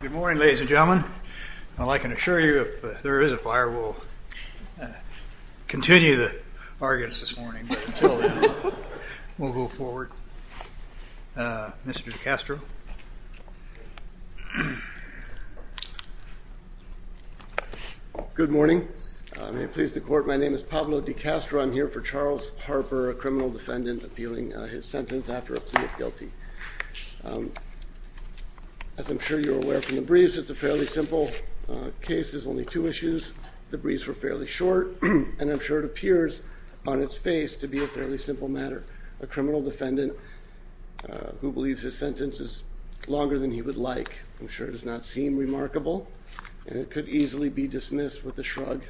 Good morning ladies and gentlemen. I can assure you if there is a fire, we'll continue the arguments this morning, but until then, we'll move forward. Mr. DiCastro. Good morning. May it please the court, my name is Pablo DiCastro. I'm here for Charles Harper, a criminal defendant, appealing his sentence after a plea of guilty. As I'm sure you're aware from the briefs, it's a fairly simple case. There's only two issues. The briefs were fairly short, and I'm sure it appears on its face to be a fairly simple matter. A criminal defendant who believes his sentence is longer than he would like. I'm sure it does not seem remarkable, and it could easily be dismissed with a shrug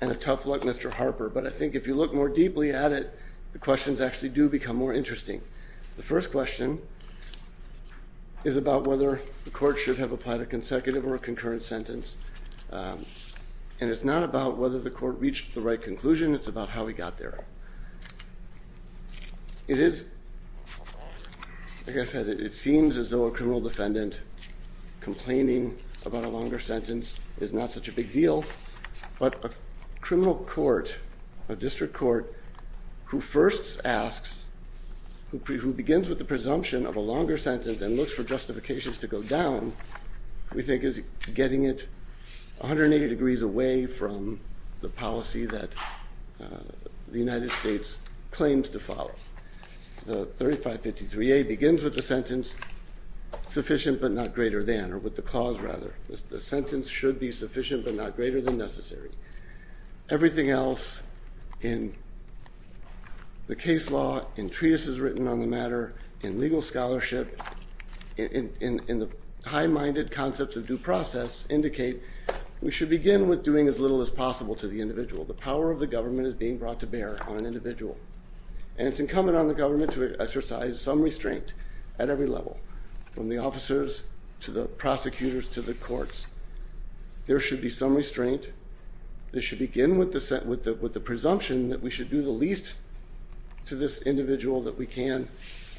and a tough look, Mr. Harper. But I think if you look more deeply at it, the questions actually do become more interesting. The first question is about whether the court should have applied a consecutive or a concurrent sentence. And it's not about whether the court reached the right conclusion, it's about how he got there. It is, like I said, it seems as though a criminal defendant complaining about a longer sentence is not such a big deal, but a criminal court, a district court, who first asks, who begins with the presumption of a longer sentence and looks for justifications to go down, we think is getting it 180 degrees away from the policy that the United States claims to follow. The 3553A begins with the sentence, sufficient but not greater than, or with the cause rather. The sentence should be sufficient but not greater than necessary. Everything else in the case law, in treatises written on the matter, in legal scholarship, in the high-minded concepts of due process indicate we should begin with doing as little as possible to the individual. The power of the government is being brought to bear on an individual. And it's incumbent on the government to exercise some restraint at every level, from the officers to the prosecutors to the courts. There should be some restraint. They should begin with the presumption that we should do the least to this individual that we can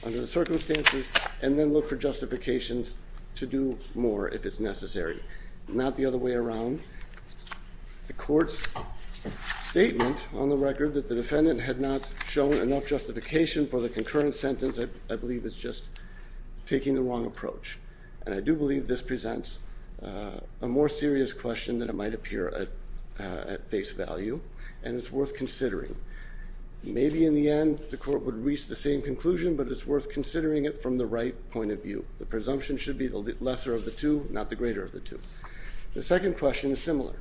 under the circumstances, and then look for justifications to do more if it's necessary. Not the other way around. The court's statement on the record that the defendant had not shown enough justification for the concurrent sentence, I believe is just taking the wrong approach. And I do believe this presents a more serious question than it might appear at face value, and it's worth considering. Maybe in the end the court would reach the same conclusion, but it's worth considering it from the right point of view. The presumption should be the lesser of the two, not the greater of the two. The second question is similar.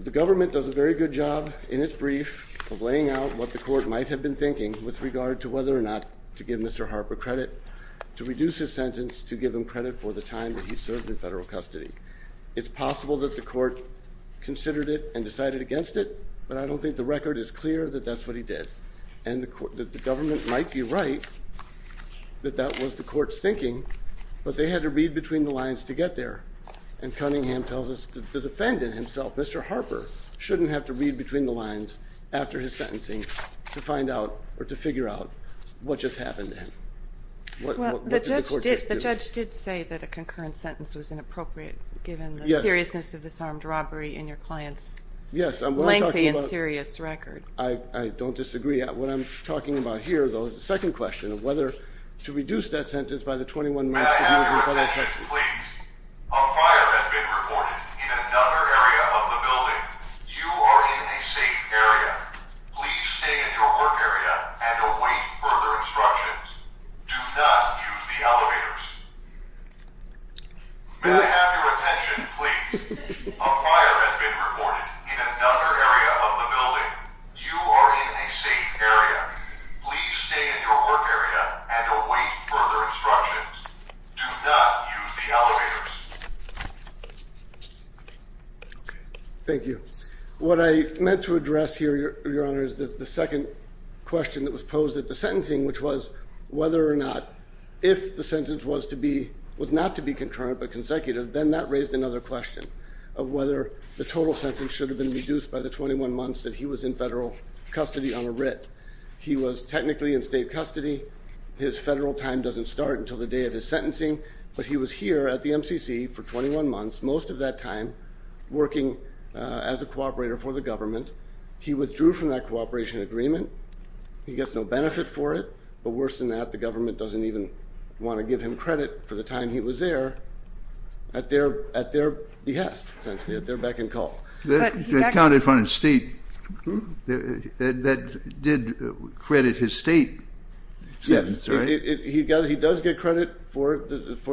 The government does a very good job in its brief of laying out what the court might have been thinking with regard to whether or not to give Mr. Harper credit, to reduce his sentence, to give him credit for the time that he served in federal custody. It's possible that the court considered it and decided against it, but I don't think the record is clear that that's what he did. And the government might be right that that was the court's thinking, but they had to read between the lines to get there. And Cunningham tells us that the defendant himself, Mr. Harper, shouldn't have to read between the lines after his sentencing to find out or to figure out what just happened to him. The judge did say that a concurrent sentence was inappropriate, given the seriousness of this armed robbery and your client's lengthy and serious record. I don't disagree. What I'm talking about here, though, is the second question of whether to reduce that sentence by the 21 months. Please. A fire has been reported in another area of the building. You are in a safe area. Please stay in your work area and await further instructions. Do not use the elevators. May I have your attention, please? A fire has been reported in another area of the building. You are in a safe area. Please stay in your work area and await further instructions. Do not use the elevators. Thank you. What I meant to address here, Your Honor, is the second question that was posed at the sentencing, which was whether or not if the sentence was not to be concurrent but consecutive, then that raised another question of whether the total sentence should have been reduced by the 21 months that he was in federal custody on a writ. He was technically in state custody. His federal time doesn't start until the day of his sentencing, but he was here at the MCC for 21 months, most of that time working as a cooperator for the government. He withdrew from that cooperation agreement. He gets no benefit for it, but worse than that, the government doesn't even want to give him credit for the time he was there at their behest, essentially, at their beck and call. He got credit for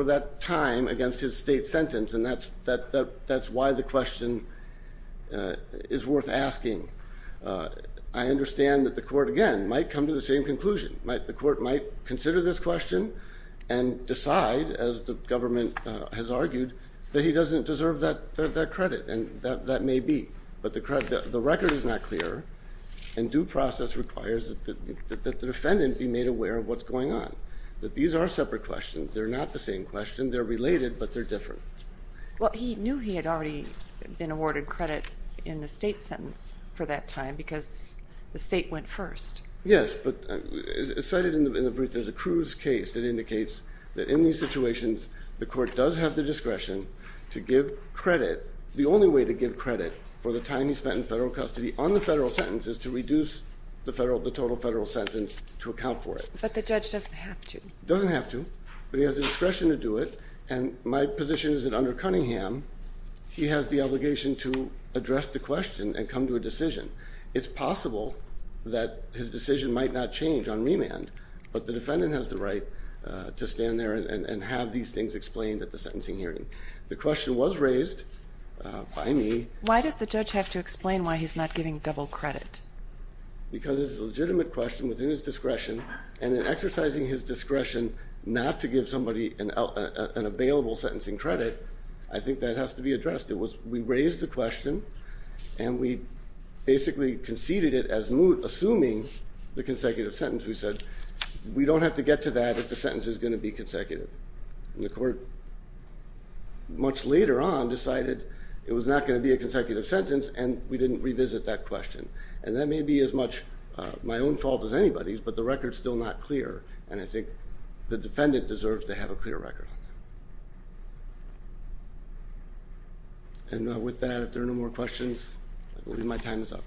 that time against his state sentence, and that's why the question is worth asking. I understand that the court, again, might come to the same conclusion. The court might consider this question and decide, as the government has argued, that he doesn't deserve that credit. It may be, but the record is not clear, and due process requires that the defendant be made aware of what's going on, that these are separate questions. They're not the same question. They're related, but they're different. Well, he knew he had already been awarded credit in the state sentence for that time because the state went first. Yes, but as cited in the brief, there's a Cruz case that indicates that in these situations, the court does have the discretion to give credit. The only way to give credit for the time he spent in federal custody on the federal sentence is to reduce the total federal sentence to account for it. But the judge doesn't have to. He doesn't have to, but he has the discretion to do it, and my position is that under Cunningham, he has the obligation to address the question and come to a decision. It's possible that his decision might not change on remand, but the defendant has the right to stand there and have these things explained at the sentencing hearing. The question was raised by me. Why does the judge have to explain why he's not giving double credit? Because it's a legitimate question within his discretion, and in exercising his discretion not to give somebody an available sentencing credit, I think that has to be addressed. We raised the question, and we basically conceded it as moot, assuming the consecutive sentence. We said, we don't have to get to that if the sentence is going to be consecutive. And the court, much later on, decided it was not going to be a consecutive sentence, and we didn't revisit that question. And that may be as much my own fault as anybody's, but the record's still not clear, and I think the defendant deserves to have a clear record. And with that, if there are no more questions, I believe my time is up.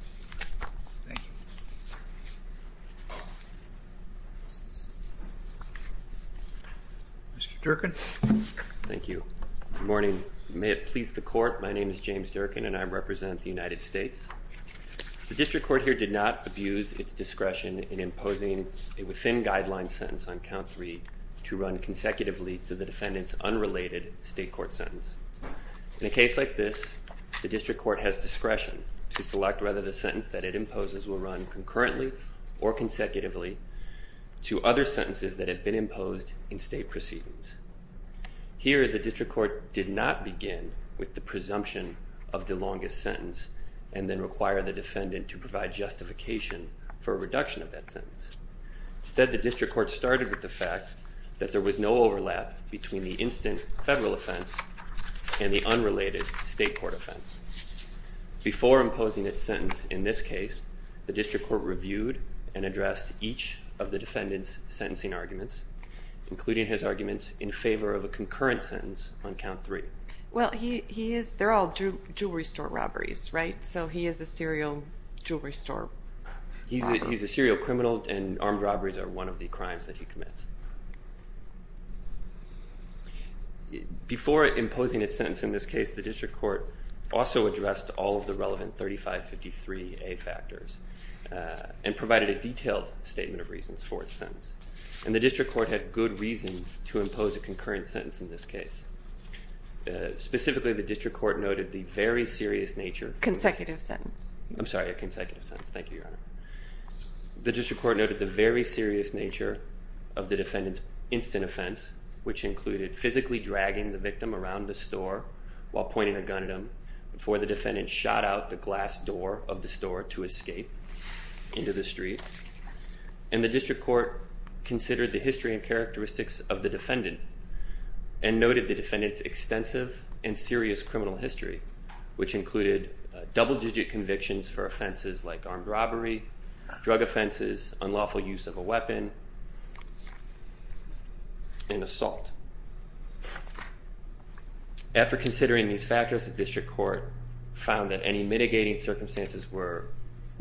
Thank you. Mr. Durkin. Thank you. Good morning. May it please the court, my name is James Durkin, and I represent the United States. The district court here did not abuse its discretion in imposing a within-guideline sentence on count three to run consecutively through the defendant's unrelated state court sentence. In a case like this, the district court has discretion to select whether the sentence that it imposes will run concurrently or consecutively to other sentences that have been imposed in state proceedings. Here, the district court did not begin with the presumption of the longest sentence and then require the defendant to provide justification for a reduction of that sentence. Instead, the district court started with the fact that there was no overlap between the instant federal offense and the unrelated state court offense. Before imposing its sentence in this case, the district court reviewed and addressed each of the defendant's sentencing arguments, including his arguments in favor of a concurrent sentence on count three. Well, he is, they're all jewelry store robberies, right? So he is a serial jewelry store robber. He's a serial criminal and armed robberies are one of the crimes that he commits. Before imposing its sentence in this case, the district court also addressed all of the relevant 3553A factors and provided a detailed statement of reasons for its sentence. And the district court had good reason to impose a concurrent sentence in this case. Specifically, the district court noted the very serious nature. Consecutive sentence. I'm sorry, a consecutive sentence. Thank you, Your Honor. The district court noted the very serious nature of the defendant's instant offense, which included physically dragging the victim around the store while pointing a gun at him before the defendant shot out the glass door of the store to escape into the street. And the district court considered the history and characteristics of the defendant and noted the defendant's extensive and serious criminal history, which included double digit convictions for offenses like armed robbery, drug offenses, unlawful use of a weapon, and assault. After considering these factors, the district court found that any mitigating circumstances were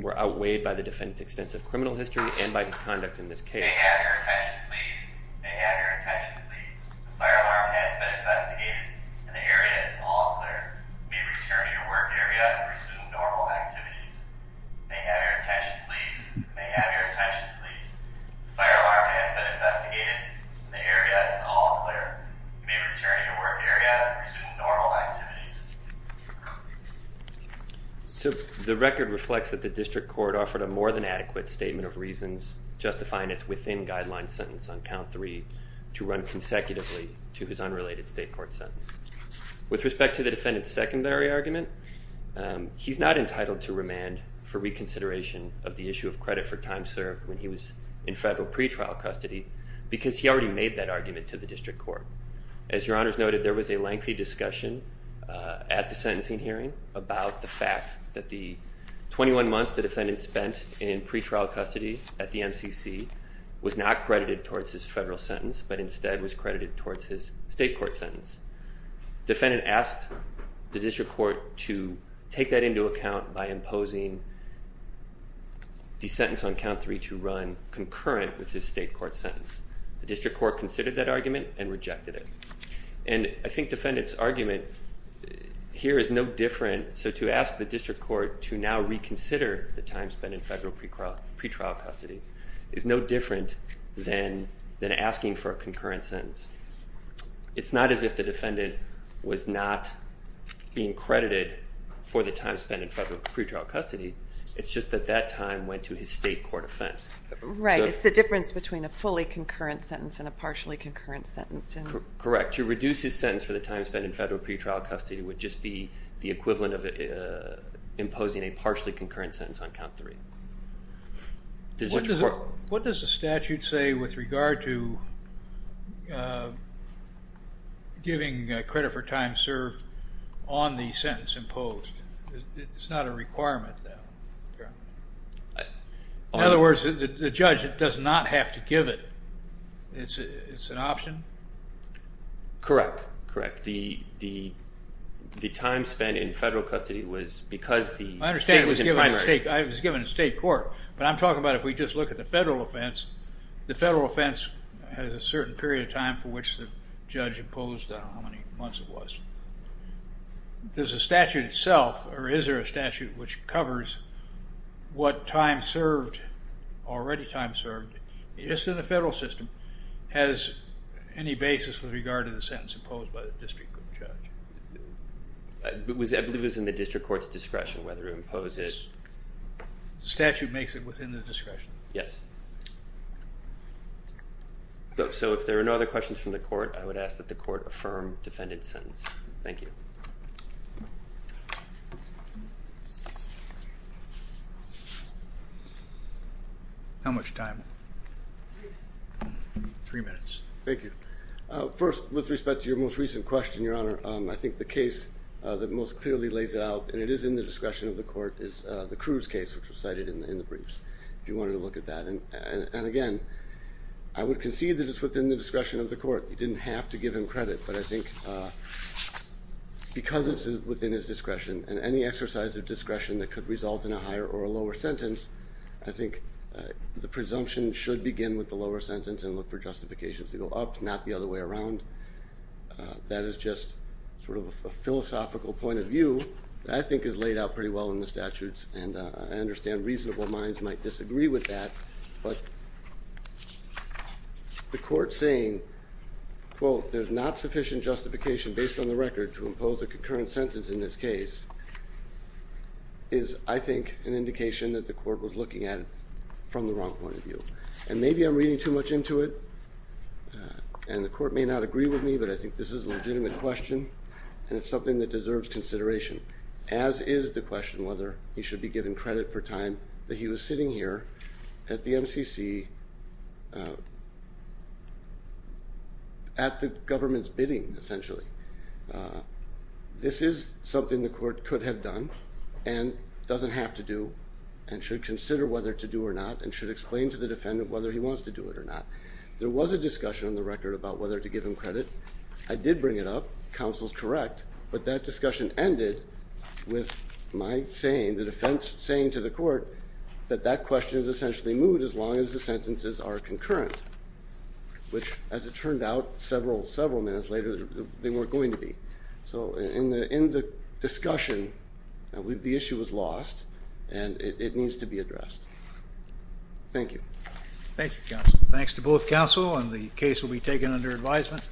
outweighed by the defendant's extensive criminal history and by his conduct in this case. May I have your attention, please? May I have your attention, please? The fire alarm has been investigated and the area is all clear. You may return to your work area and resume normal activities. May I have your attention, please? May I have your attention, please? The fire alarm has been investigated and the area is all clear. You may return to your work area and resume normal activities. So the record reflects that the district court offered a more than adequate statement of reasons, justifying its within guideline sentence on count three to run consecutively to his unrelated state court sentence. With respect to the defendant's secondary argument, he's not entitled to remand for reconsideration of the issue of credit for time served when he was in federal pretrial custody because he already made that argument to the district court. As your honors noted, there was a lengthy discussion at the sentencing hearing about the fact that the 21 months the defendant spent in pretrial custody at the MCC was not credited towards his federal sentence, but instead was credited towards his state court sentence. Defendant asked the district court to take that into account by imposing the sentence on count three to run concurrent with his state court sentence. The district court considered that argument and rejected it. And I think defendant's argument here is no different. So to ask the district court to now reconsider the time spent in federal pretrial custody is no different than asking for a concurrent sentence. It's not as if the defendant was not being credited for the time spent in federal pretrial custody. It's just that that time went to his state court offense. Right. It's the difference between a fully concurrent sentence and a partially concurrent sentence. Correct. To reduce his sentence for the time spent in federal pretrial custody would just be the equivalent of imposing a partially concurrent sentence on count three. What does the statute say with regard to giving credit for time served on the sentence imposed? It's not a requirement. In other words, the judge does not have to give it. It's an option? Correct. The time spent in federal custody was because the state was in primary. I understand it was given to state court, but I'm talking about if we just look at the federal offense, the federal offense has a certain period of time for which the judge imposed, I don't know how many months it was. Does the statute itself, or is there a statute which covers what time served, already time served, just in the federal system, has any basis with regard to the sentence imposed by the district court judge? I believe it was in the district court's discretion whether to impose it. The statute makes it within the discretion? Yes. So if there are no other questions from the court, I would ask that the court affirm defendant's sentence. Thank you. How much time? Three minutes. Thank you. First, with respect to your most recent question, Your Honor, I think the case that most clearly lays it out, and it is in the discretion of the court, is the Cruz case, which was cited in the briefs, if you wanted to look at that. And again, I would concede that it's within the discretion of the court. You didn't have to give him credit, but I think because it's within his discretion, and any exercise of discretion that could result in a higher or a lower sentence, I think the presumption should begin with the lower sentence and look for justifications to go up, not the other way around. That is just sort of a philosophical point of view that I think is laid out pretty well in the statutes, and I understand reasonable minds might disagree with that. But the court saying, quote, there's not sufficient justification based on the record to impose a concurrent sentence in this case is, I think, an indication that the court was looking at it from the wrong point of view. And maybe I'm reading too much into it, and the court may not agree with me, but I think this is a legitimate question, and it's something that deserves consideration, as is the question whether he should be given credit for time that he was sitting here at the MCC at the government's bidding, essentially. This is something the court could have done and doesn't have to do and should consider whether to do or not and should explain to the defendant whether he wants to do it or not. There was a discussion on the record about whether to give him credit. I did bring it up. Counsel's correct. But that discussion ended with my saying, the defense saying to the court that that question is essentially moved as long as the sentences are concurrent, which, as it turned out several, several minutes later, they weren't going to be. So in the discussion, I believe the issue was lost, and it needs to be addressed. Thank you. Thanks to both counsel, and the case will be taken under advisement.